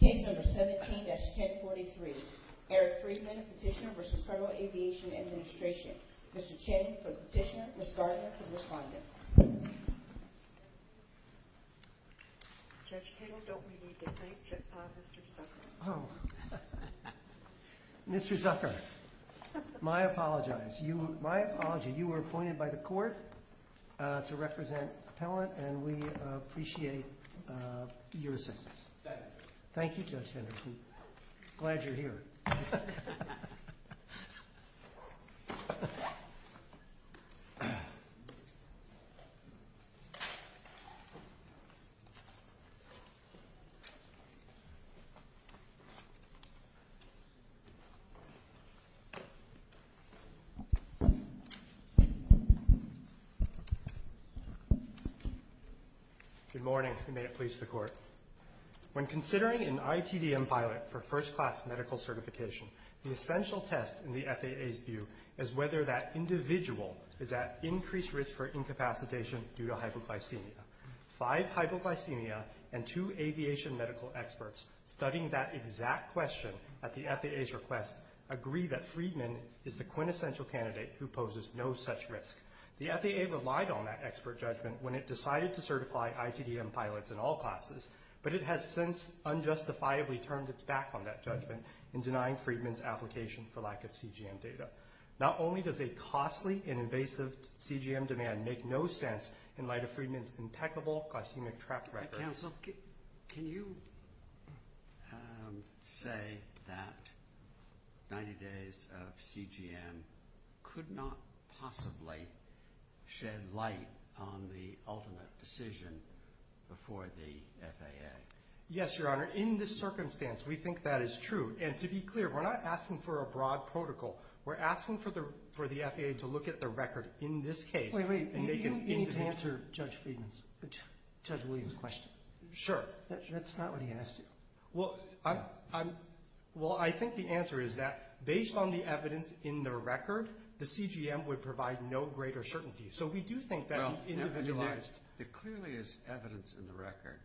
Case number 17-1043. Eric Friedman, Petitioner v. Federal Aviation Administration. Mr. Chen for the Petitioner, Ms. Gardner for the Respondent. Judge Kittle, don't we need to thank Judge Paz, Mr. Zucker? Oh, Mr. Zucker, my apologies. My apologies, you were appointed by the court to represent appellant and we appreciate your assistance. Thank you. Thank you, Judge Henderson. Glad you're here. Good morning, and may it please the court. When considering an ITDM pilot for first-class medical certification, the essential test in the FAA's view is whether that individual is at increased risk for incapacitation due to hypoglycemia. Five hypoglycemia and two aviation medical experts studying that exact question at the FAA's request agree that Friedman is the quintessential candidate who poses no such risk. The FAA relied on that expert judgment when it decided to certify ITDM pilots in all classes, but it has since unjustifiably turned its back on that judgment in denying Friedman's application for lack of CGM data. Not only does a costly and invasive CGM demand make no sense in light of Friedman's impeccable glycemic track record… Can you say that 90 days of CGM could not possibly shed light on the ultimate decision before the FAA? Yes, Your Honor. In this circumstance, we think that is true. And to be clear, we're not asking for a broad protocol. We're asking for the FAA to look at the record in this case… Wait, wait. You need to answer Judge Friedman's, Judge Williams' question. Sure. That's not what he asked you. Well, I think the answer is that based on the evidence in the record, the CGM would provide no greater certainty. So we do think that he individualized… There clearly is evidence in the record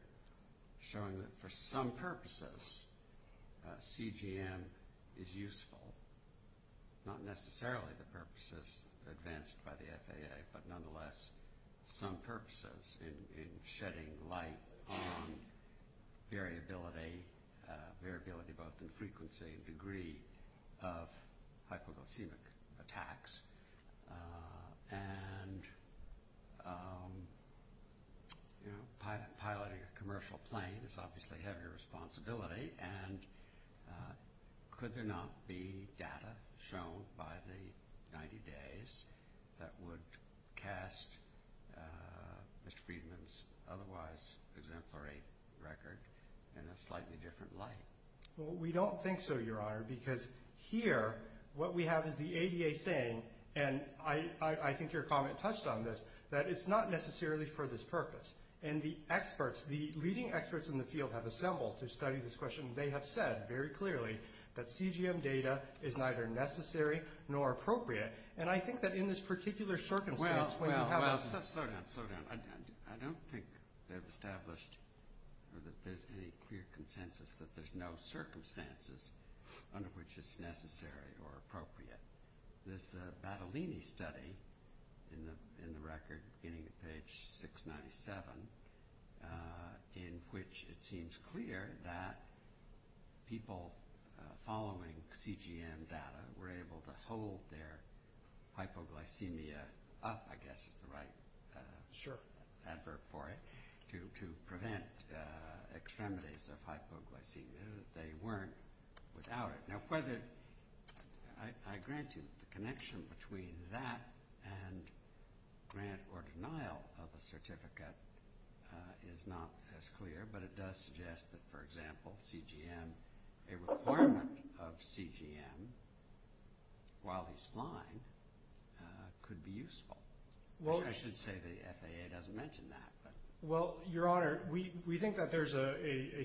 showing that for some purposes, CGM is useful. Not necessarily the purposes advanced by the FAA, but nonetheless some purposes in shedding light on variability, variability both in frequency and degree of hypoglycemic attacks. And piloting a commercial plane is obviously a heavy responsibility. And could there not be data shown by the 90 days that would cast Mr. Friedman's otherwise exemplary record in a slightly different light? Well, we don't think so, Your Honor, because here what we have is the ADA saying, and I think your comment touched on this, that it's not necessarily for this purpose. And the experts, the leading experts in the field have assembled to study this question. They have said very clearly that CGM data is neither necessary nor appropriate. And I think that in this particular circumstance… Well, slow down, slow down. I don't think they've established or that there's any clear consensus that there's no circumstances under which it's necessary or appropriate. There's the Battolini study in the record beginning at page 697 in which it seems clear that people following CGM data were able to hold their hypoglycemia up, I guess is the right adverb for it, to prevent extremities of hypoglycemia. They weren't without it. Now, whether I grant you the connection between that and grant or denial of a certificate is not as clear, but it does suggest that, for example, CGM, a requirement of CGM while he's flying could be useful. I should say the FAA doesn't mention that. Well, Your Honor, we think that there's a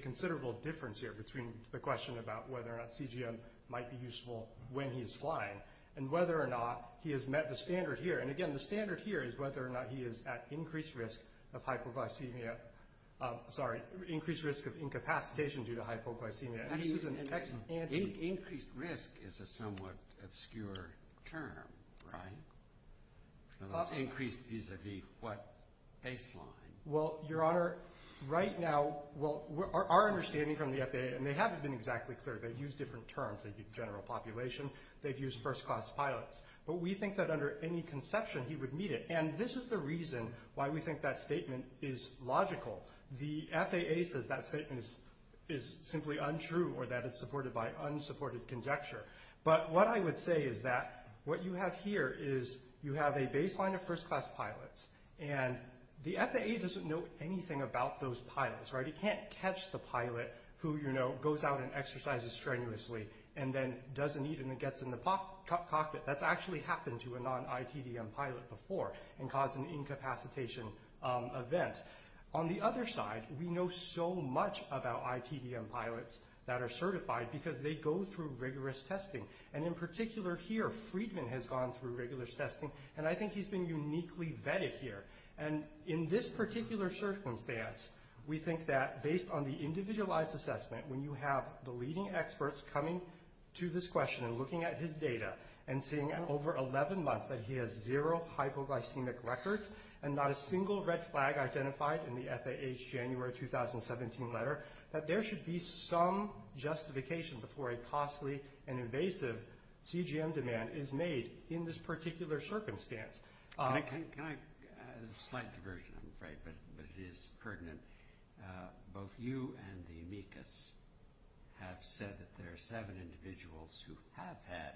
considerable difference here between the question about whether or not CGM might be useful when he's flying and whether or not he has met the standard here. And, again, the standard here is whether or not he is at increased risk of hypoglycemia – sorry, increased risk of incapacitation due to hypoglycemia. Increased risk is a somewhat obscure term, right? Increased vis-a-vis what baseline? Well, Your Honor, right now our understanding from the FAA – and they haven't been exactly clear. They've used different terms. They've used general population. They've used first-class pilots. But we think that under any conception he would meet it. And this is the reason why we think that statement is logical. The FAA says that statement is simply untrue or that it's supported by unsupported conjecture. But what I would say is that what you have here is you have a baseline of first-class pilots, and the FAA doesn't know anything about those pilots, right? It can't catch the pilot who, you know, goes out and exercises strenuously and then doesn't eat and then gets in the cockpit. That's actually happened to a non-ITDM pilot before and caused an incapacitation event. On the other side, we know so much about ITDM pilots that are certified because they go through rigorous testing. And in particular here, Friedman has gone through rigorous testing, and I think he's been uniquely vetted here. And in this particular circumstance, we think that based on the individualized assessment, when you have the leading experts coming to this question and looking at his data and seeing over 11 months that he has zero hypoglycemic records and not a single red flag identified in the FAA's January 2017 letter, that there should be some justification before a costly and invasive CGM demand is made in this particular circumstance. Can I – a slight diversion, I'm afraid, but it is pertinent. Both you and the amicus have said that there are seven individuals who have had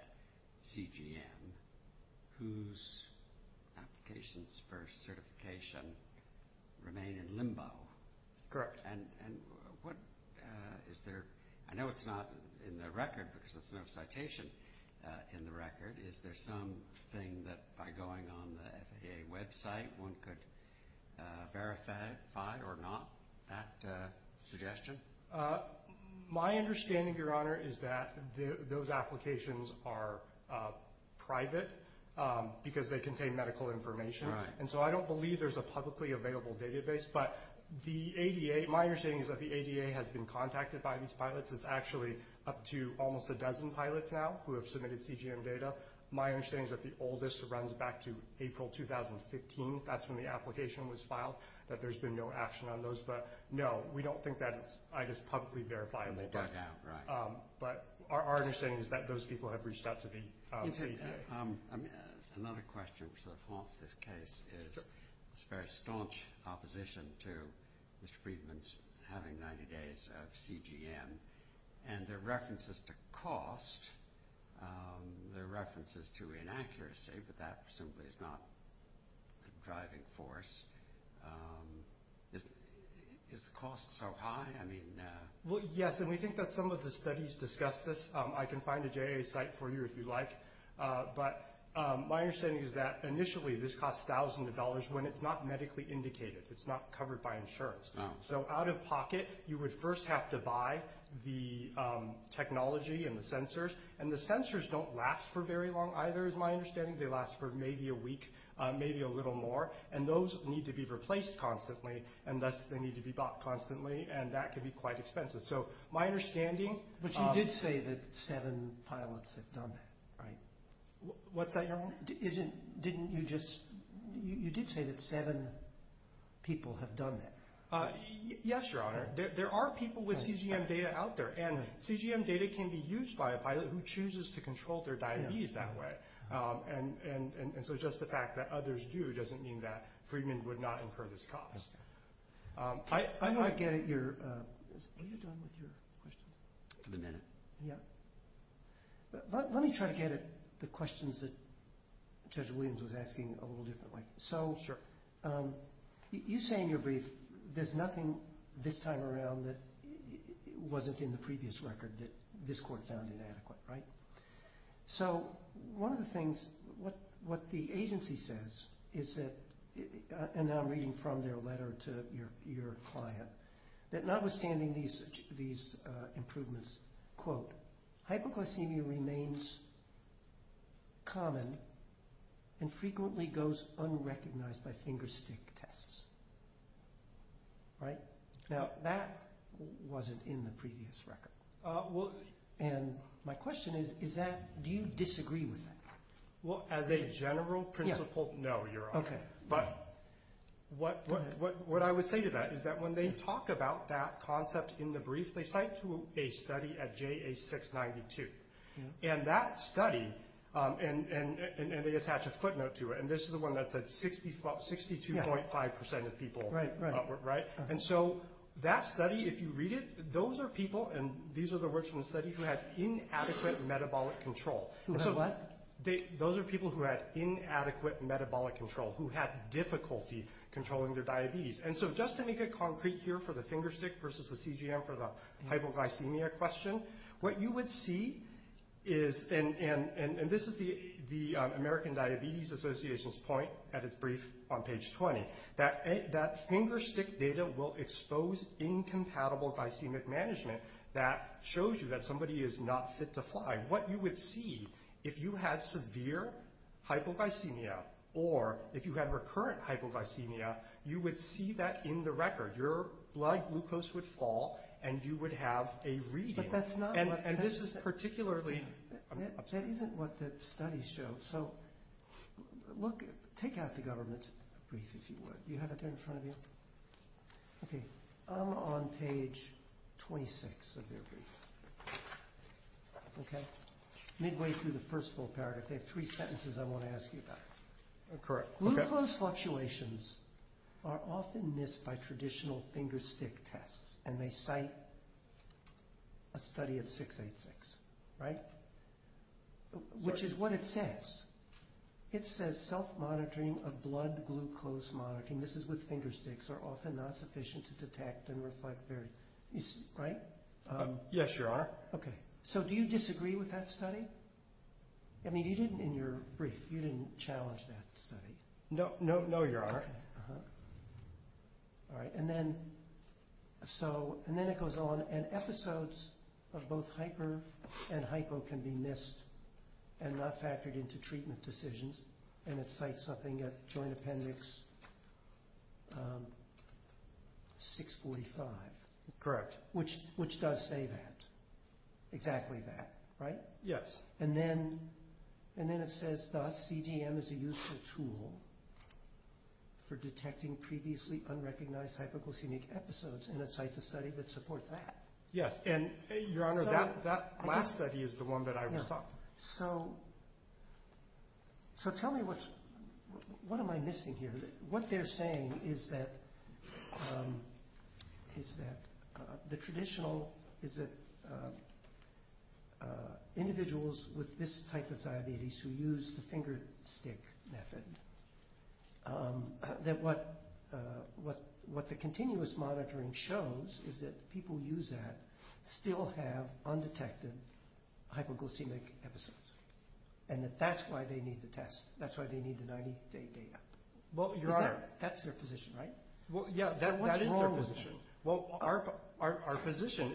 CGM whose applications for certification remain in limbo. Correct. And what – is there – I know it's not in the record because there's no citation in the record. Is there something that by going on the FAA website one could verify or not, that suggestion? My understanding, Your Honor, is that those applications are private because they contain medical information. Right. And so I don't believe there's a publicly available database. But the ADA – my understanding is that the ADA has been contacted by these pilots. It's actually up to almost a dozen pilots now who have submitted CGM data. My understanding is that the oldest runs back to April 2015. That's when the application was filed, that there's been no action on those. But, no, we don't think that is publicly verifiable. And they bug out, right. But our understanding is that those people have reached out to the ADA. Another question which sort of haunts this case is this very staunch opposition to Mr. Friedman's having 90 days of CGM. And there are references to cost. There are references to inaccuracy. But that simply is not a driving force. Is the cost so high? I mean – Well, yes, and we think that some of the studies discuss this. I can find a JAA site for you if you'd like. But my understanding is that initially this costs thousands of dollars when it's not medically indicated. It's not covered by insurance. So out of pocket, you would first have to buy the technology and the sensors. And the sensors don't last for very long either is my understanding. They last for maybe a week, maybe a little more. And those need to be replaced constantly. And thus they need to be bought constantly. And that can be quite expensive. So my understanding – But you did say that seven pilots have done that, right? What's that, Your Honor? Didn't you just – you did say that seven people have done that. Yes, Your Honor. There are people with CGM data out there. And CGM data can be used by a pilot who chooses to control their diabetes that way. And so just the fact that others do doesn't mean that Friedman would not incur this cost. I'm going to get at your – are you done with your question? In a minute. Yeah. Let me try to get at the questions that Judge Williams was asking a little differently. Sure. So you say in your brief there's nothing this time around that wasn't in the previous record that this court found inadequate, right? So one of the things – what the agency says is that – and I'm reading from their letter to your client – that notwithstanding these improvements, quote, hypoglycemia remains common and frequently goes unrecognized by finger stick tests, right? Now, that wasn't in the previous record. And my question is, is that – do you disagree with that? Well, as a general principle, no, Your Honor. But what I would say to that is that when they talk about that concept in the brief, they cite a study at JA 692. And that study – and they attach a footnote to it. And this is the one that said 62.5% of people, right? And so that study, if you read it, those are people – and these are the words from the study – who had inadequate metabolic control. What? Those are people who had inadequate metabolic control, who had difficulty controlling their diabetes. And so just to make it concrete here for the finger stick versus the CGM for the hypoglycemia question, what you would see is – and this is the American Diabetes Association's point at its brief on page 20 – that finger stick data will expose incompatible glycemic management. That shows you that somebody is not fit to fly. What you would see if you had severe hypoglycemia or if you had recurrent hypoglycemia, you would see that in the record. Your blood glucose would fall, and you would have a reading. But that's not what – And this is particularly – That isn't what the studies show. So look – take out the government brief, if you would. Do you have it there in front of you? Okay. I'm on page 26 of their brief, okay, midway through the first full paragraph. They have three sentences I want to ask you about. Correct. Okay. Glucose fluctuations are often missed by traditional finger stick tests, and they cite a study at 686, right? Which is what it says. It says self-monitoring of blood glucose monitoring – this is with finger sticks – are often not sufficient to detect and reflect various – right? Yes, Your Honor. Okay. So do you disagree with that study? I mean, you didn't in your brief. You didn't challenge that study. No, Your Honor. Okay. All right. And then it goes on, and episodes of both hyper and hypo can be missed and not factored into treatment decisions, and it cites something at Joint Appendix 645. Correct. Which does say that. Exactly that, right? Yes. And then it says CDM is a useful tool for detecting previously unrecognized hypoglycemic episodes, and it cites a study that supports that. Yes, and, Your Honor, that last study is the one that I was talking about. So tell me what am I missing here? What they're saying is that the traditional – is that individuals with this type of diabetes who use the finger stick method, that what the continuous monitoring shows is that people who use that still have undetected hypoglycemic episodes, and that that's why they need the test. That's why they need the 90-day data. Well, Your Honor – That's their position, right? Well, yeah, that is their position. So what's wrong with them? Well, our position,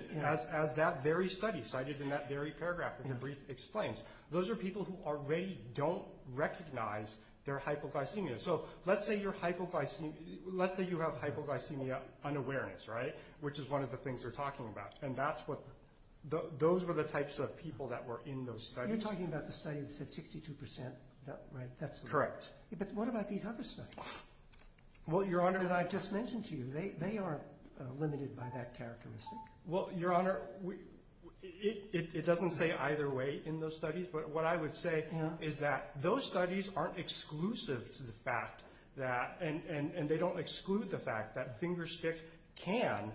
as that very study cited in that very paragraph in the brief explains, those are people who already don't recognize their hypoglycemia. So let's say you have hypoglycemia unawareness, right, which is one of the things they're talking about, and those were the types of people that were in those studies. You're talking about the study that said 62%, right? Correct. But what about these other studies that I've just mentioned to you? They aren't limited by that characteristic. Well, Your Honor, it doesn't say either way in those studies, but what I would say is that those studies aren't exclusive to the fact that – and they don't exclude the fact that finger stick can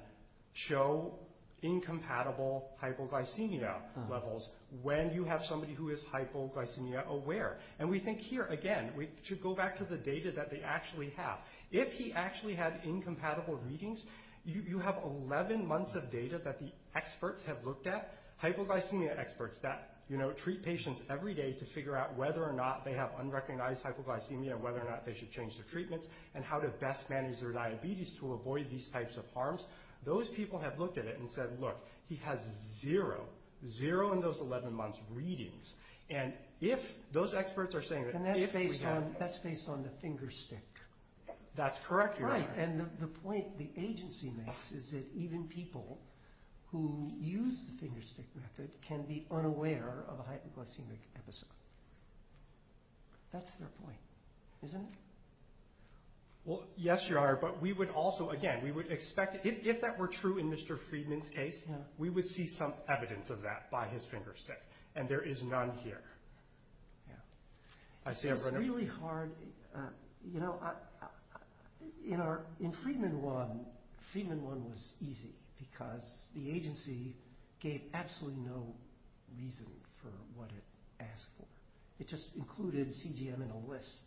show incompatible hypoglycemia levels when you have somebody who is hypoglycemia aware. And we think here, again, we should go back to the data that they actually have. If he actually had incompatible readings, you have 11 months of data that the experts have looked at, hypoglycemia experts that treat patients every day to figure out whether or not they have unrecognized hypoglycemia and whether or not they should change their treatments and how to best manage their diabetes to avoid these types of harms. Those people have looked at it and said, look, he has zero, zero in those 11 months readings. And if those experts are saying that if we have – That's correct, Your Honor. Right, and the point the agency makes is that even people who use the finger stick method can be unaware of a hypoglycemic episode. That's their point, isn't it? Well, yes, Your Honor, but we would also, again, we would expect – if that were true in Mr. Friedman's case, we would see some evidence of that by his finger stick. And there is none here. I see, Your Honor. This is really hard. In Friedman 1, Friedman 1 was easy because the agency gave absolutely no reason for what it asked for. It just included CGM in a list.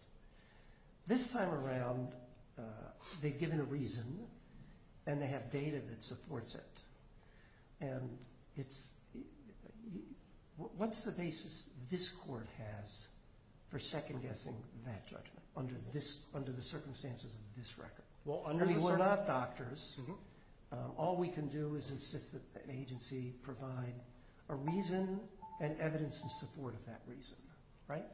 This time around, they've given a reason and they have data that supports it. And it's – what's the basis this court has for second-guessing that judgment under the circumstances of this record? I mean, we're not doctors. All we can do is insist that the agency provide a reason and evidence in support of that reason, right?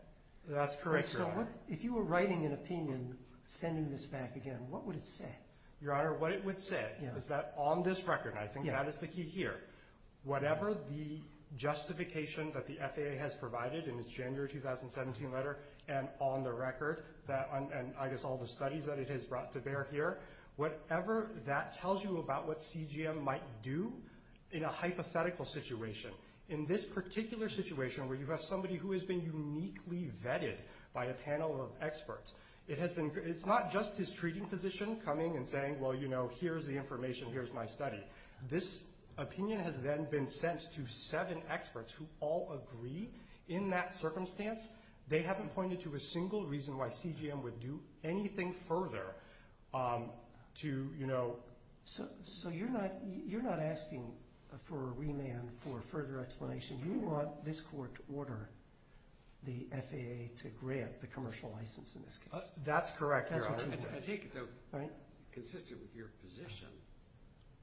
That's correct, Your Honor. If you were writing an opinion sending this back again, what would it say? Your Honor, what it would say is that on this record, and I think that is the key here, whatever the justification that the FAA has provided in its January 2017 letter and on the record, and I guess all the studies that it has brought to bear here, whatever that tells you about what CGM might do in a hypothetical situation, in this particular situation where you have somebody who has been uniquely vetted by a panel of experts, it's not just his treating physician coming and saying, well, you know, here's the information, here's my study. This opinion has then been sent to seven experts who all agree in that circumstance. They haven't pointed to a single reason why CGM would do anything further to, you know. So you're not asking for a remand for further explanation. You want this court to order the FAA to grant the commercial license in this case. That's correct, Your Honor. I take it though consistent with your position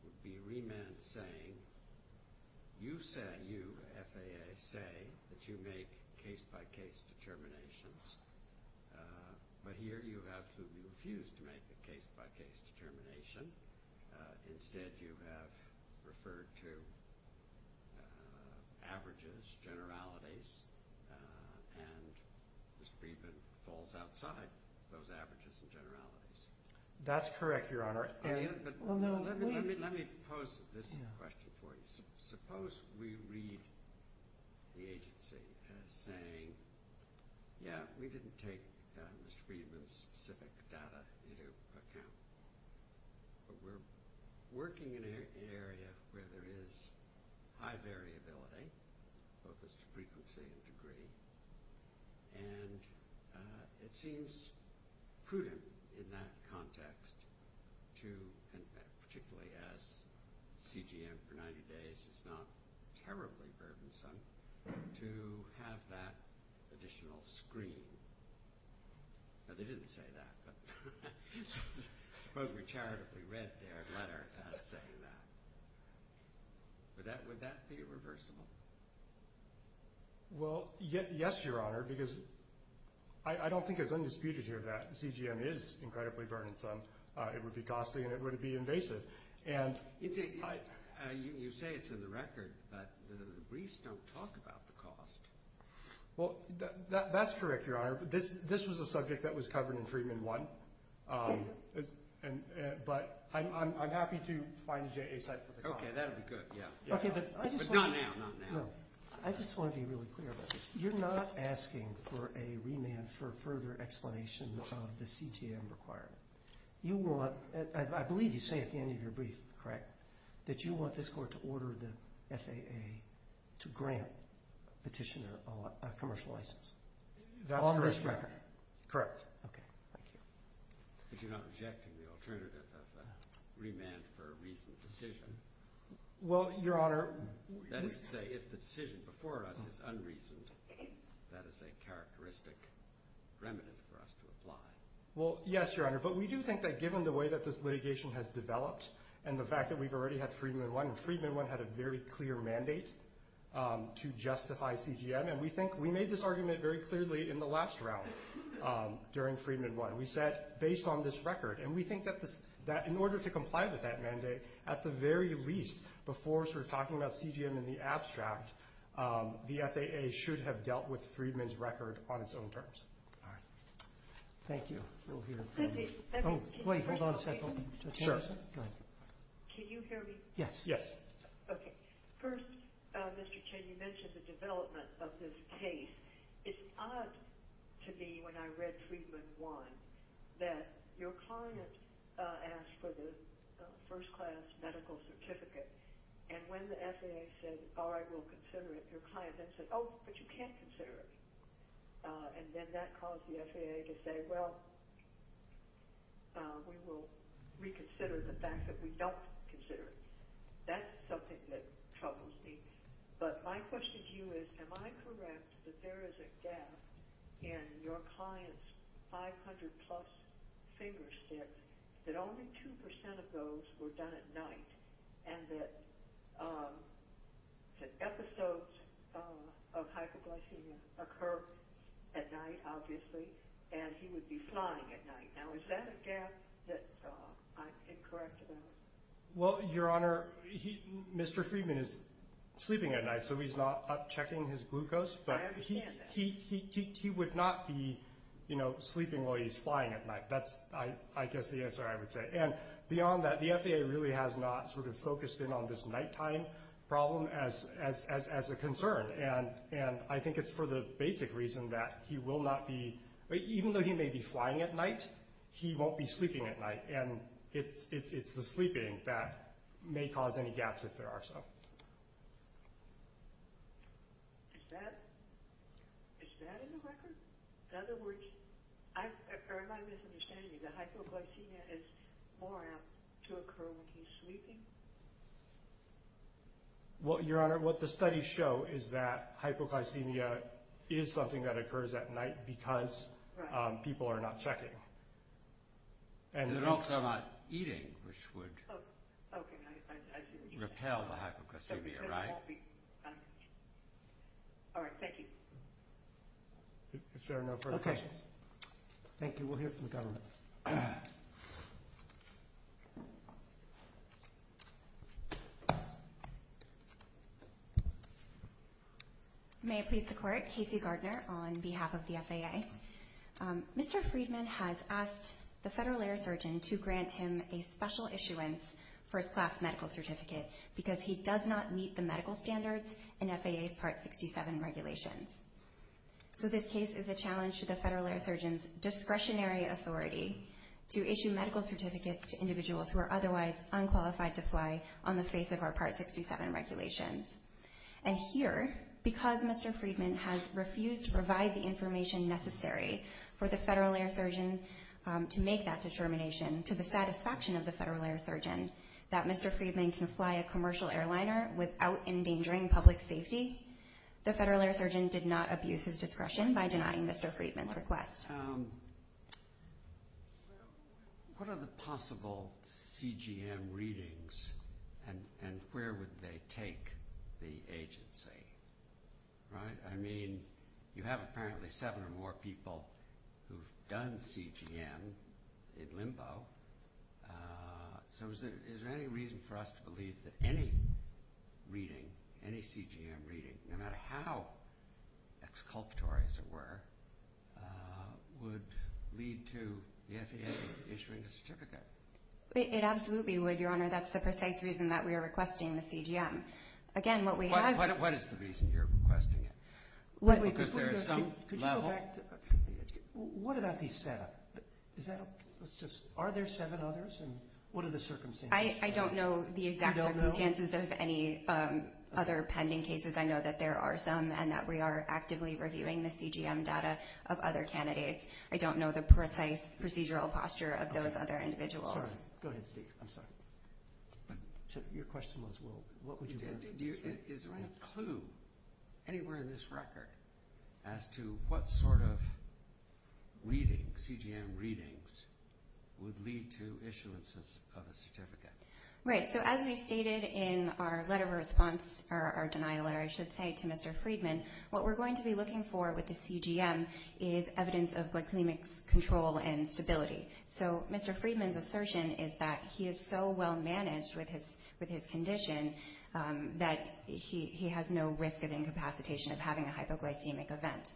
would be remand saying you said you, FAA, say that you make case-by-case determinations, but here you have to refuse to make the case-by-case determination. Instead, you have referred to averages, generalities, and Mr. Friedman falls outside those averages and generalities. That's correct, Your Honor. Let me pose this question for you. Suppose we read the agency as saying, yeah, we didn't take Mr. Friedman's specific data into account, but we're working in an area where there is high variability, both as to frequency and degree, and it seems prudent in that context to, and particularly as CGM for 90 days is not terribly burdensome, to have that additional screen. They didn't say that. Suppose we charitably read their letter as saying that. Would that be reversible? Well, yes, Your Honor, because I don't think it's undisputed here that CGM is incredibly burdensome. It would be costly and it would be invasive. You say it's in the record, but the briefs don't talk about the cost. Well, that's correct, Your Honor. This was a subject that was covered in Friedman 1, but I'm happy to find a JA site for the comment. Okay, that would be good, yeah. But not now, not now. I just want to be really clear about this. You're not asking for a remand for further explanation of the CTM requirement. That you want this court to order the FAA to grant petitioner a commercial license? That's correct, Your Honor. On this record? Correct. Okay, thank you. But you're not rejecting the alternative of a remand for a reasoned decision? Well, Your Honor. That is to say, if the decision before us is unreasoned, that is a characteristic remnant for us to apply. Well, yes, Your Honor, but we do think that given the way that this litigation has developed and the fact that we've already had Friedman 1, and Friedman 1 had a very clear mandate to justify CGM, and we think we made this argument very clearly in the last round during Friedman 1. We said, based on this record, and we think that in order to comply with that mandate, at the very least, before sort of talking about CGM in the abstract, the FAA should have dealt with Friedman's record on its own terms. All right. Thank you. Oh, wait. Hold on a second. Sure. Go ahead. Can you hear me? Yes. Yes. Okay. First, Mr. Chen, you mentioned the development of this case. It's odd to me when I read Friedman 1 that your client asked for the first-class medical certificate, and when the FAA said, all right, we'll consider it, your client then said, oh, but you can't consider it. And then that caused the FAA to say, well, we will reconsider the fact that we don't consider it. That's something that troubles me. But my question to you is, am I correct that there is a gap in your client's 500-plus fingers that only 2% of those were done at night, and that episodes of hyperglycemia occur at night, obviously, and he would be flying at night? Now, is that a gap that I'm incorrect about? Well, Your Honor, Mr. Friedman is sleeping at night, so he's not checking his glucose. I understand that. But he would not be, you know, sleeping while he's flying at night. That's, I guess, the answer I would say. And beyond that, the FAA really has not sort of focused in on this nighttime problem as a concern, and I think it's for the basic reason that he will not be, even though he may be flying at night, he won't be sleeping at night, and it's the sleeping that may cause any gaps if there are some. Is that in the record? In other words, am I misunderstanding you? The hypoglycemia is more apt to occur when he's sleeping? Well, Your Honor, what the studies show is that hypoglycemia is something that occurs at night because people are not checking. And they're also not eating, which would repel the hypoglycemia, right? All right. Thank you. If there are no further questions. Okay. Thank you. We'll hear from the government. May it please the Court. Casey Gardner on behalf of the FAA. Mr. Friedman has asked the federal air surgeon to grant him a special issuance first-class medical certificate because he does not meet the medical standards in FAA's Part 67 regulations. So this case is a challenge to the federal air surgeon's discretionary authority to issue medical certificates to individuals who are otherwise unqualified to fly on the face of our Part 67 regulations. And here, because Mr. Friedman has refused to provide the information necessary for the federal air surgeon to make that determination, to the satisfaction of the federal air surgeon, that Mr. Friedman can fly a commercial airliner without endangering public safety, the federal air surgeon did not abuse his discretion by denying Mr. Friedman's request. What are the possible CGM readings, and where would they take the agency? Right? I mean, you have apparently seven or more people who've done CGM in limbo. So is there any reason for us to believe that any reading, any CGM reading, no matter how exculpatory as it were, would lead to the FAA issuing a certificate? It absolutely would, Your Honor. That's the precise reason that we are requesting the CGM. Again, what we have— What is the reason you're requesting it? Because there is some level— Could you go back to—what about these seven? Is that a—let's just—are there seven others, and what are the circumstances? I don't know the exact circumstances of any other pending cases. I know that there are some, and that we are actively reviewing the CGM data of other candidates. I don't know the precise procedural posture of those other individuals. Sorry. Go ahead, Steve. I'm sorry. Your question was, well, what would you— Is there any clue anywhere in this record as to what sort of reading, CGM readings, would lead to issuances of a certificate? Right. So as we stated in our letter of response, or our denial letter, I should say, to Mr. Friedman, what we're going to be looking for with the CGM is evidence of glycemic control and stability. So Mr. Friedman's assertion is that he is so well managed with his condition that he has no risk of incapacitation of having a hypoglycemic event.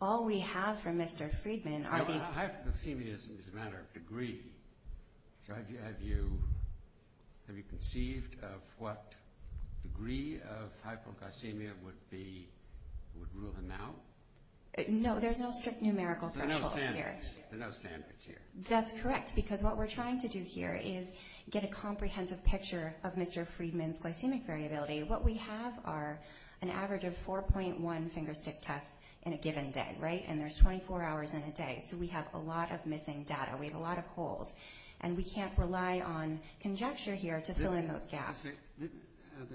All we have from Mr. Friedman are these— Now, hypoglycemia is a matter of degree. So have you conceived of what degree of hypoglycemia would be—would rule him out? No, there's no strict numerical thresholds here. There are no standards here. That's correct, because what we're trying to do here is get a comprehensive picture of Mr. Friedman's glycemic variability. What we have are an average of 4.1 finger stick tests in a given day, right? And there's 24 hours in a day, so we have a lot of missing data. We have a lot of holes, and we can't rely on conjecture here to fill in those gaps. There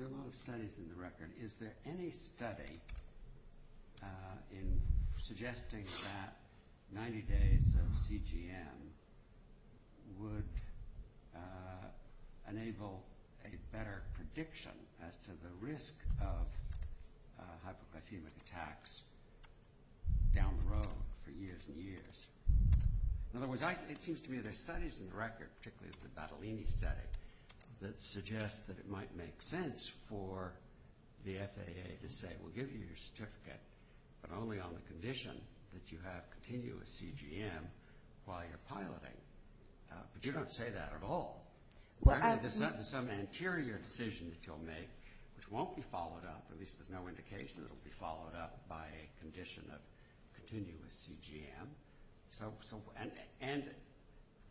are a lot of studies in the record. Is there any study suggesting that 90 days of CGM would enable a better prediction as to the risk of hypoglycemic attacks down the road for years and years? In other words, it seems to me there are studies in the record, particularly the Battolini study, that suggest that it might make sense for the FAA to say, we'll give you your certificate, but only on the condition that you have continuous CGM while you're piloting. But you don't say that at all. There's some anterior decision that you'll make, which won't be followed up, at least there's no indication it'll be followed up by a condition of continuous CGM. And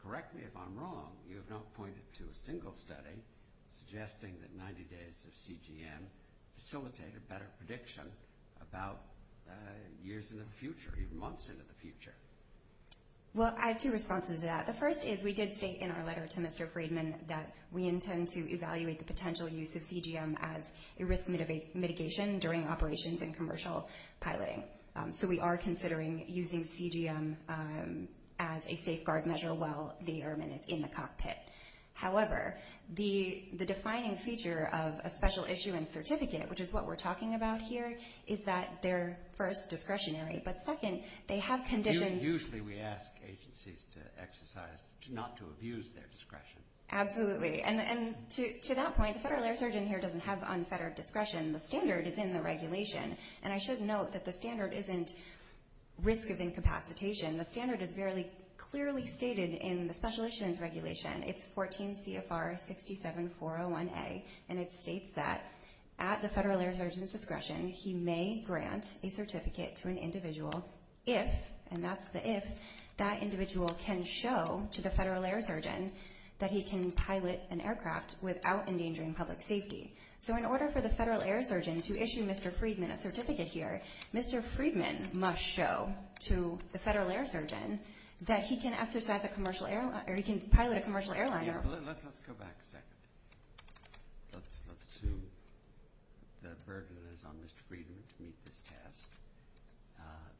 correct me if I'm wrong, you have not pointed to a single study suggesting that 90 days of CGM facilitate a better prediction about years in the future, even months into the future. Well, I have two responses to that. The first is we did state in our letter to Mr. Friedman that we intend to evaluate the potential use of CGM as a risk mitigation during operations and commercial piloting. So we are considering using CGM as a safeguard measure while the airman is in the cockpit. However, the defining feature of a special issue and certificate, which is what we're talking about here, is that they're, first, discretionary, but second, they have conditions. Usually we ask agencies to exercise, not to abuse their discretion. Absolutely. And to that point, the federal air surgeon here doesn't have unfettered discretion. The standard is in the regulation. And I should note that the standard isn't risk of incapacitation. The standard is very clearly stated in the Special Issues Regulation. It's 14 CFR 67401A, and it states that at the federal air surgeon's discretion, he may grant a certificate to an individual if, and that's the if, that individual can show to the federal air surgeon that he can pilot an aircraft without endangering public safety. So in order for the federal air surgeon to issue Mr. Friedman a certificate here, Mr. Friedman must show to the federal air surgeon that he can pilot a commercial airliner. Let's go back a second. Let's assume the burden is on Mr. Friedman to meet this test.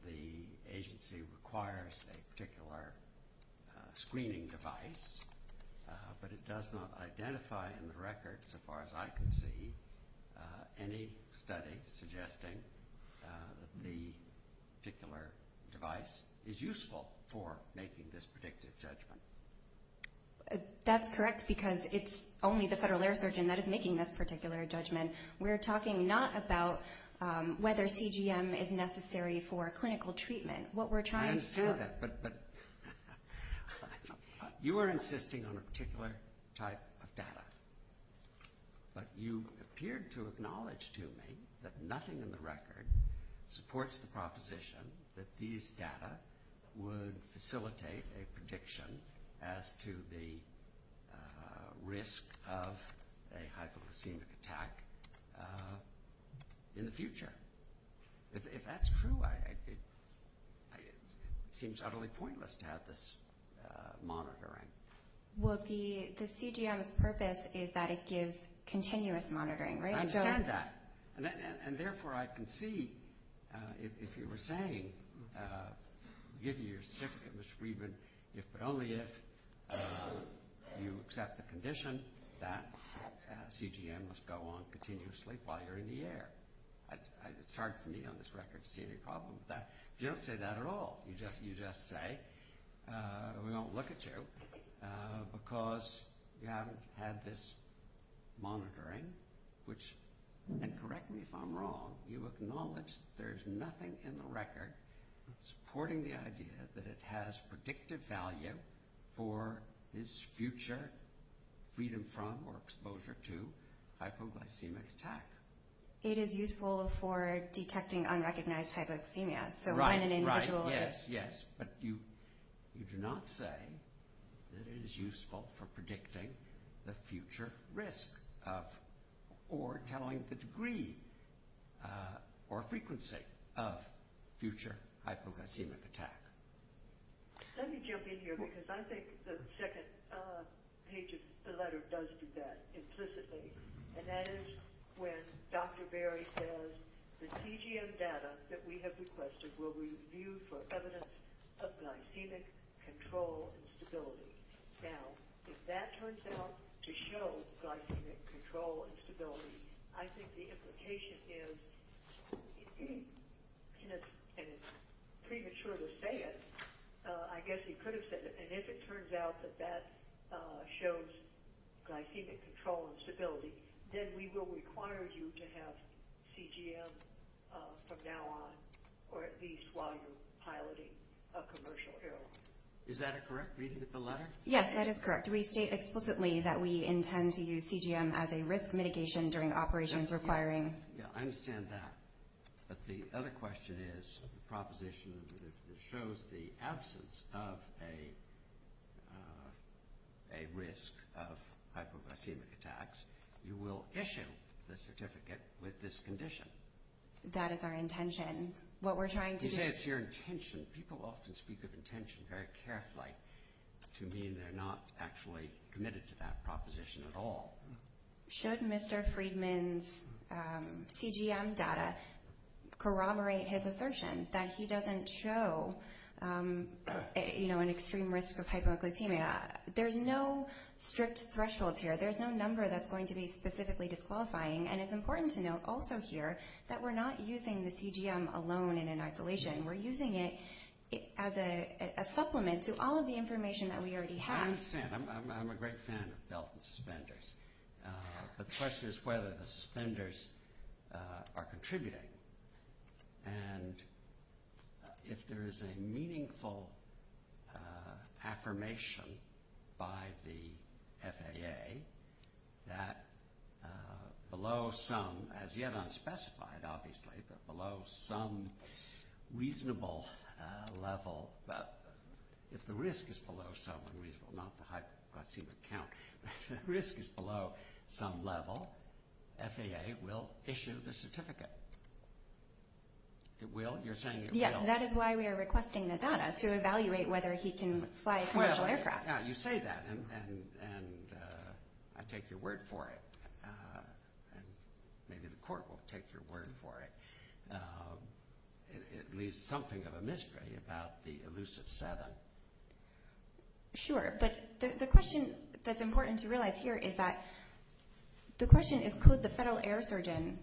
The agency requires a particular screening device, but it does not identify in the record, so far as I can see, any study suggesting the particular device is useful for making this predictive judgment. That's correct because it's only the federal air surgeon that is making this particular judgment. We're talking not about whether CGM is necessary for clinical treatment. I understand that, but you are insisting on a particular type of data, but you appeared to acknowledge to me that nothing in the record supports the proposition that these data would facilitate a prediction as to the risk of a hypoglycemic attack in the future. If that's true, it seems utterly pointless to have this monitoring. Well, the CGM's purpose is that it gives continuous monitoring, right? I understand that, and therefore I can see if you were saying, give you your certificate, Mr. Friedman, but only if you accept the condition that CGM must go on continuously while you're in the air. It's hard for me on this record to see any problem with that. You don't say that at all. You just say we won't look at you because you haven't had this monitoring, and correct me if I'm wrong, you acknowledge there's nothing in the record supporting the idea that it has predictive value for this future freedom from or exposure to hypoglycemic attack. It is useful for detecting unrecognized hypoglycemia. Right, right, yes, yes. But you do not say that it is useful for predicting the future risk of or telling the degree or frequency of future hypoglycemic attack. Let me jump in here because I think the second page of the letter does do that implicitly, and that is when Dr. Berry says the CGM data that we have requested will review for evidence of glycemic control and stability. Now, if that turns out to show glycemic control and stability, I think the implication is, and it's premature to say it, I guess he could have said it, and if it turns out that that shows glycemic control and stability, then we will require you to have CGM from now on, or at least while you're piloting a commercial airline. Is that a correct reading of the letter? Yes, that is correct. We state explicitly that we intend to use CGM as a risk mitigation during operations requiring. Yeah, I understand that. But the other question is the proposition that shows the absence of a risk of hypoglycemic attacks, you will issue the certificate with this condition. That is our intention. You say it's your intention. People often speak of intention very carefully to mean they're not actually committed to that proposition at all. Should Mr. Friedman's CGM data corroborate his assertion that he doesn't show an extreme risk of hypoglycemia? There's no strict thresholds here. There's no number that's going to be specifically disqualifying, and it's important to note also here that we're not using the CGM alone and in isolation. We're using it as a supplement to all of the information that we already have. I understand. I'm a great fan of belt and suspenders. But the question is whether the suspenders are contributing. And if there is a meaningful affirmation by the FAA that below some, as yet unspecified obviously, but below some reasonable level, if the risk is below some reasonable, not the hypoglycemic count, if the risk is below some level, FAA will issue the certificate. It will. You're saying it will. Yes, and that is why we are requesting Nadana to evaluate whether he can fly a commercial aircraft. You say that, and I take your word for it. Maybe the court will take your word for it. It leaves something of a mystery about the elusive seven. Sure, but the question that's important to realize here is that the question is could the federal air surgeon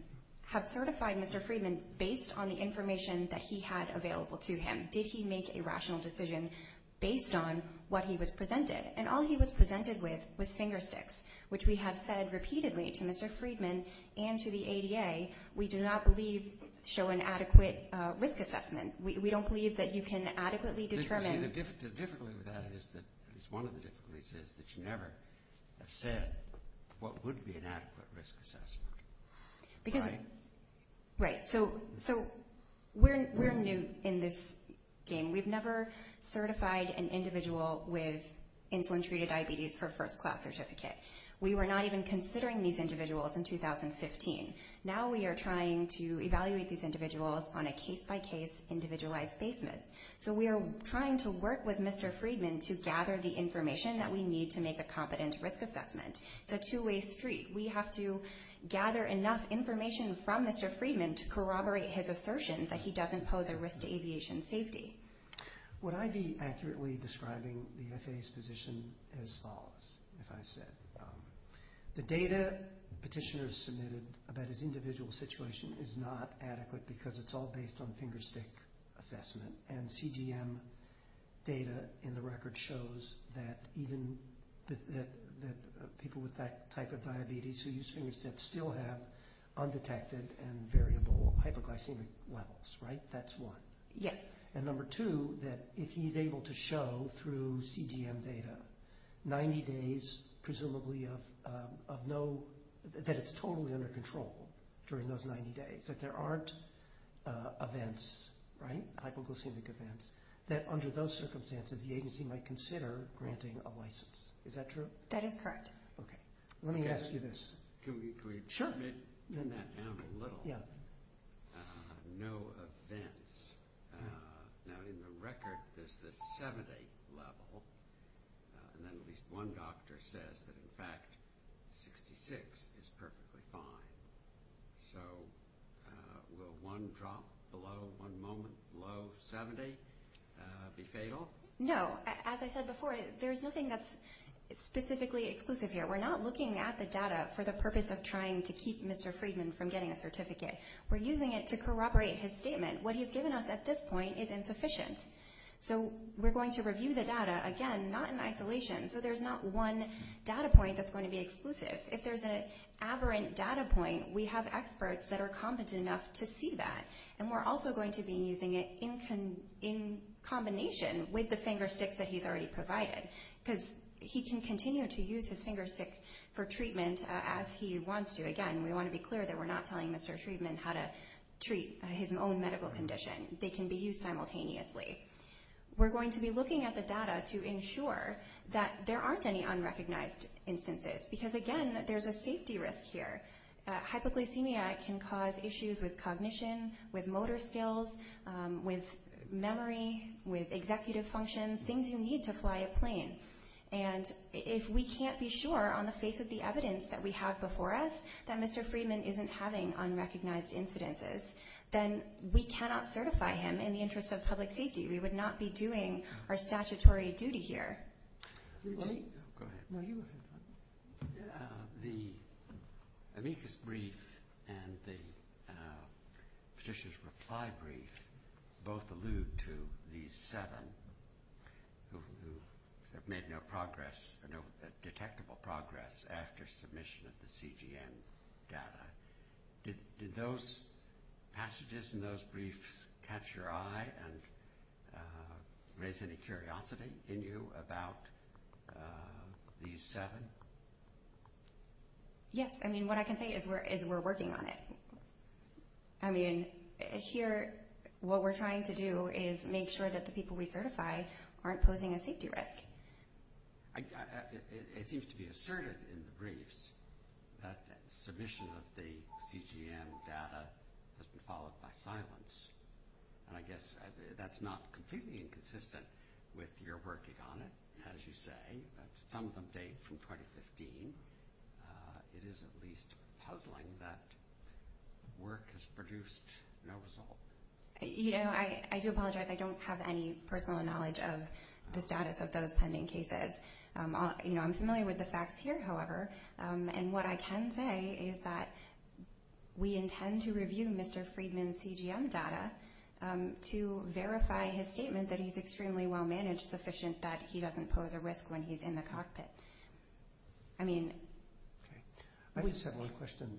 have certified Mr. Friedman based on the information that he had available to him? Did he make a rational decision based on what he was presented? And all he was presented with was finger sticks, which we have said repeatedly to Mr. Friedman and to the ADA, we do not believe show an adequate risk assessment. We don't believe that you can adequately determine. The difficulty with that is that one of the difficulties is that you never have said what would be an adequate risk assessment. Right? Right. So we're new in this game. We've never certified an individual with insulin-treated diabetes for a first-class certificate. We were not even considering these individuals in 2015. Now we are trying to evaluate these individuals on a case-by-case, individualized basement. So we are trying to work with Mr. Friedman to gather the information that we need to make a competent risk assessment. It's a two-way street. We have to gather enough information from Mr. Friedman to corroborate his assertion that he does impose a risk to aviation safety. Would I be accurately describing the FAA's position as follows, if I said, the data petitioners submitted about his individual situation is not adequate because it's all based on finger stick assessment, and CGM data in the record shows that even people with that type of diabetes who use finger sticks still have undetected and variable hypoglycemic levels. Right? That's one. Yes. And number two, that if he's able to show through CGM data, 90 days presumably of no, that it's totally under control during those 90 days, that there aren't events, right, hypoglycemic events, that under those circumstances the agency might consider granting a license. Is that true? That is correct. Okay. Let me ask you this. Can we trim that down a little? Yeah. No events. Now in the record, there's this 70 level, and then at least one doctor says that in fact 66 is perfectly fine. So will one drop below, one moment below 70 be fatal? No. As I said before, there's nothing that's specifically exclusive here. We're not looking at the data for the purpose of trying to keep Mr. Friedman from getting a certificate. We're using it to corroborate his statement. What he's given us at this point is insufficient, so we're going to review the data, again, not in isolation, so there's not one data point that's going to be exclusive. If there's an aberrant data point, we have experts that are competent enough to see that, and we're also going to be using it in combination with the finger sticks that he's already provided because he can continue to use his finger stick for treatment as he wants to. Again, we want to be clear that we're not telling Mr. Friedman how to treat his own medical condition. They can be used simultaneously. We're going to be looking at the data to ensure that there aren't any unrecognized instances because, again, there's a safety risk here. Hypoglycemia can cause issues with cognition, with motor skills, with memory, with executive functions, things you need to fly a plane. And if we can't be sure on the face of the evidence that we have before us that Mr. Friedman isn't having unrecognized incidences, then we cannot certify him in the interest of public safety. We would not be doing our statutory duty here. Go ahead. The amicus brief and the petitioner's reply brief both allude to these seven who have made no progress, no detectable progress after submission of the CGN data. Did those passages in those briefs catch your eye and raise any curiosity in you about these seven? Yes. I mean, what I can say is we're working on it. I mean, here what we're trying to do is make sure that the people we certify aren't posing a safety risk. It seems to be asserted in the briefs that submission of the CGN data has been followed by silence, and I guess that's not completely inconsistent with your working on it, as you say. Some of them date from 2015. It is at least puzzling that work has produced no result. I do apologize. I don't have any personal knowledge of the status of those pending cases. I'm familiar with the facts here, however, and what I can say is that we intend to review Mr. Friedman's CGN data to verify his statement that he's extremely well-managed, sufficient that he doesn't pose a risk when he's in the cockpit. I just have one question.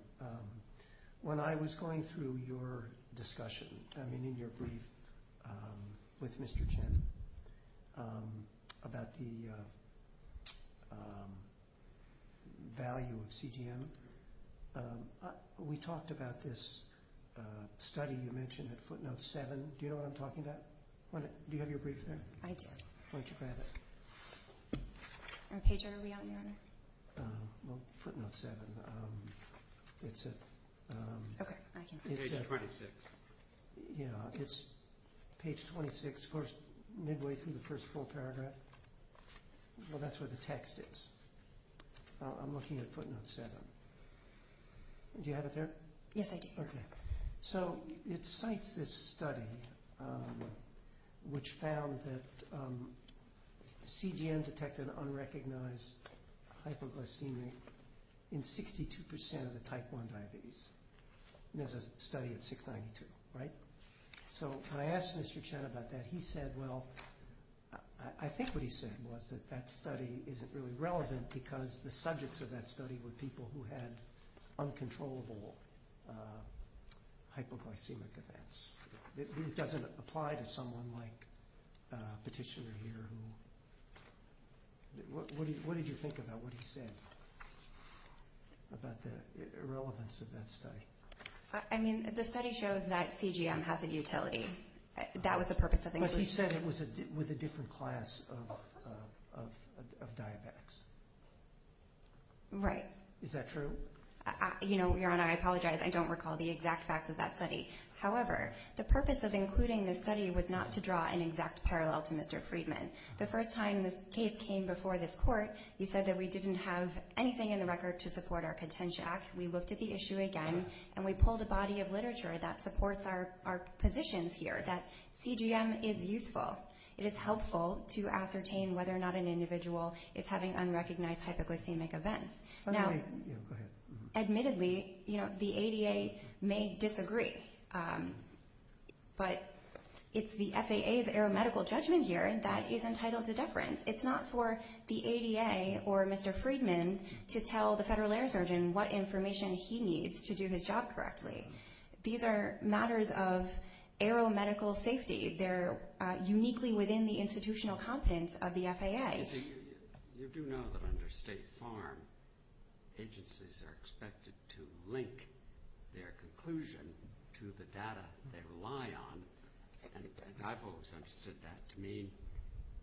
When I was going through your discussion, I mean, in your brief with Mr. Chen about the value of CGN, we talked about this study you mentioned at footnote 7. Do you know what I'm talking about? Do you have your brief there? I do. Why don't you grab it? Our page order will be out in an hour. Well, footnote 7, it's at page 26, midway through the first full paragraph. Well, that's where the text is. I'm looking at footnote 7. Do you have it there? Yes, I do. Okay, so it cites this study which found that CGN detected unrecognized hypoglycemia in 62% of the type 1 diabetes. There's a study at 692, right? So when I asked Mr. Chen about that, he said, well, I think what he said was that that study isn't really relevant because the subjects of that study were people who had uncontrollable hypoglycemic events. It doesn't apply to someone like Petitioner here. What did you think about what he said about the irrelevance of that study? I mean, the study shows that CGN has a utility. That was the purpose of the inclusion. But he said it was with a different class of diabetics. Right. Is that true? Your Honor, I apologize. I don't recall the exact facts of that study. However, the purpose of including this study was not to draw an exact parallel to Mr. Friedman. The first time this case came before this Court, you said that we didn't have anything in the record to support our contention. We looked at the issue again, and we pulled a body of literature that supports our positions here, that CGM is useful. It is helpful to ascertain whether or not an individual is having unrecognized hypoglycemic events. Admittedly, the ADA may disagree, but it's the FAA's aero-medical judgment here that is entitled to deference. It's not for the ADA or Mr. Friedman to tell the federal air surgeon what information he needs to do his job correctly. These are matters of aero-medical safety. They're uniquely within the institutional competence of the FAA. You do know that under State Farm, agencies are expected to link their conclusion to the data they rely on. And I've always understood that to mean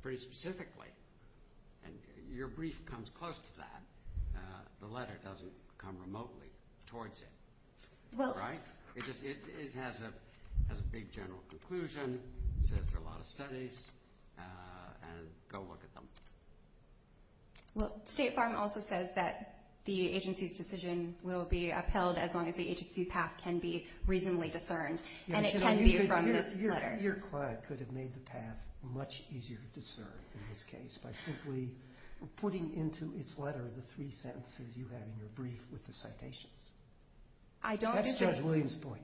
pretty specifically. And your brief comes close to that. The letter doesn't come remotely towards it, right? It has a big general conclusion, says there are a lot of studies, and go look at them. State Farm also says that the agency's decision will be upheld as long as the agency's path can be reasonably discerned, and it can be from this letter. Your client could have made the path much easier to discern, in this case, by simply putting into its letter the three sentences you have in your brief with the citations. That's Judge Williams' point.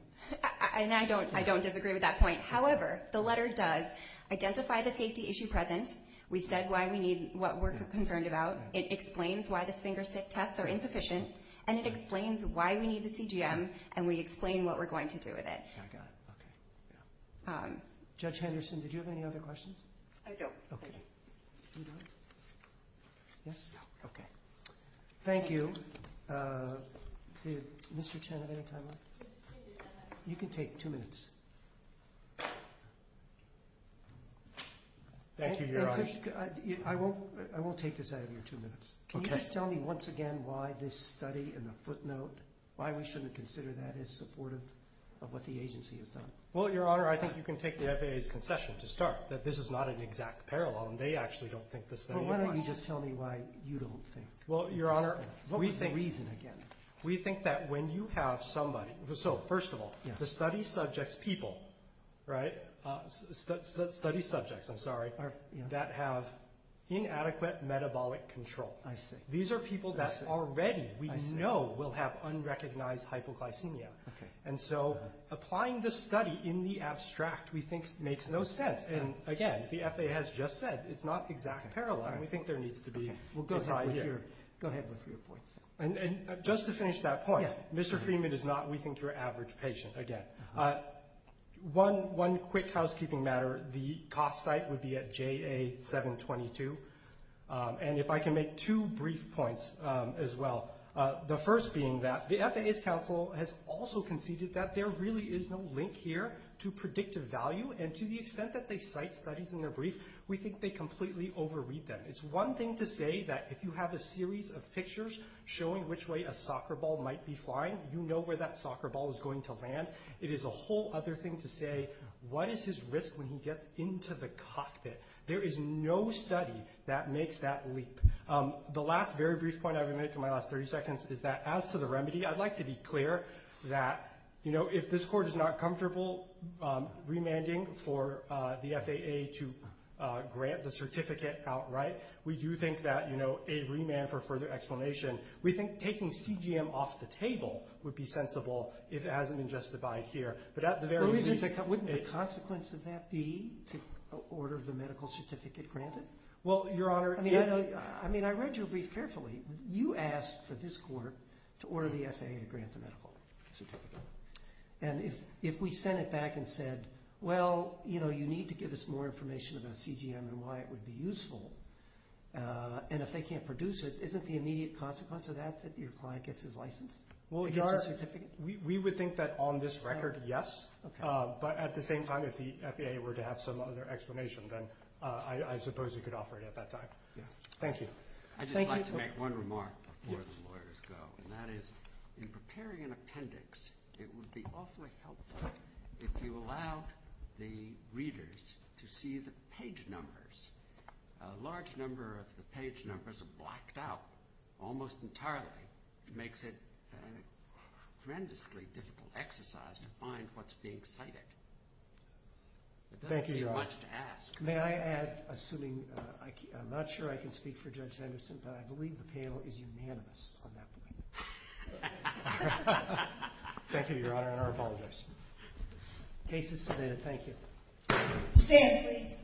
And I don't disagree with that point. However, the letter does identify the safety issue present. We said why we need what we're concerned about. It explains why the sphincter tests are insufficient, and it explains why we need the CGM, and we explain what we're going to do with it. Okay, I got it. Okay. Judge Henderson, did you have any other questions? I don't. Okay. You don't? Yes? No. Okay. Thank you. Did Mr. Chen have any time left? You can take two minutes. Thank you, Your Honor. I won't take this out of your two minutes. Okay. Can you just tell me once again why this study and the footnote, why we shouldn't consider that as supportive of what the agency has done? Well, Your Honor, I think you can take the FAA's concession to start, that this is not an exact parallel, and they actually don't think this study is wise. Well, why don't you just tell me why you don't think this study is wise? What was the reason again? We think that when you have somebody, so first of all, the study subjects people, right, study subjects, I'm sorry, that have inadequate metabolic control. I see. These are people that already we know will have unrecognized hypoglycemia. Okay. And so applying the study in the abstract, we think, makes no sense. And again, the FAA has just said it's not exact parallel, and we think there needs to be a tie here. Go ahead with your points. And just to finish that point, Mr. Freeman is not, we think, your average patient again. One quick housekeeping matter, the cost site would be at JA-722, and if I can make two brief points as well. The first being that the FAA's counsel has also conceded that there really is no link here to predictive value, and to the extent that they cite studies in their brief, we think they completely overread them. It's one thing to say that if you have a series of pictures showing which way a soccer ball might be flying, you know where that soccer ball is going to land. It is a whole other thing to say, what is his risk when he gets into the cockpit? There is no study that makes that leap. The last very brief point I would make in my last 30 seconds is that as to the remedy, I'd like to be clear that, you know, if this Court is not comfortable remanding for the FAA to grant the certificate outright, we do think that, you know, a remand for further explanation, we think taking CGM off the table would be sensible if it hasn't been justified here. Wouldn't the consequence of that be to order the medical certificate granted? Well, Your Honor, I mean, I read your brief carefully. You asked for this Court to order the FAA to grant the medical certificate, and if we sent it back and said, well, you know, you need to give us more information about CGM and why it would be useful, and if they can't produce it, isn't the immediate consequence of that that your client gets his license? Well, Your Honor, we would think that on this record, yes. But at the same time, if the FAA were to have some other explanation, then I suppose it could offer it at that time. Thank you. I'd just like to make one remark before the lawyers go, and that is in preparing an appendix, it would be awfully helpful if you allowed the readers to see the page numbers. A large number of the page numbers are blacked out almost entirely. It makes it a tremendously difficult exercise to find what's being cited. Thank you, Your Honor. It doesn't seem much to ask. May I add, assuming I'm not sure I can speak for Judge Henderson, but I believe the panel is unanimous on that point. Thank you, Your Honor, and I apologize. Case is submitted. Thank you. Stand, please.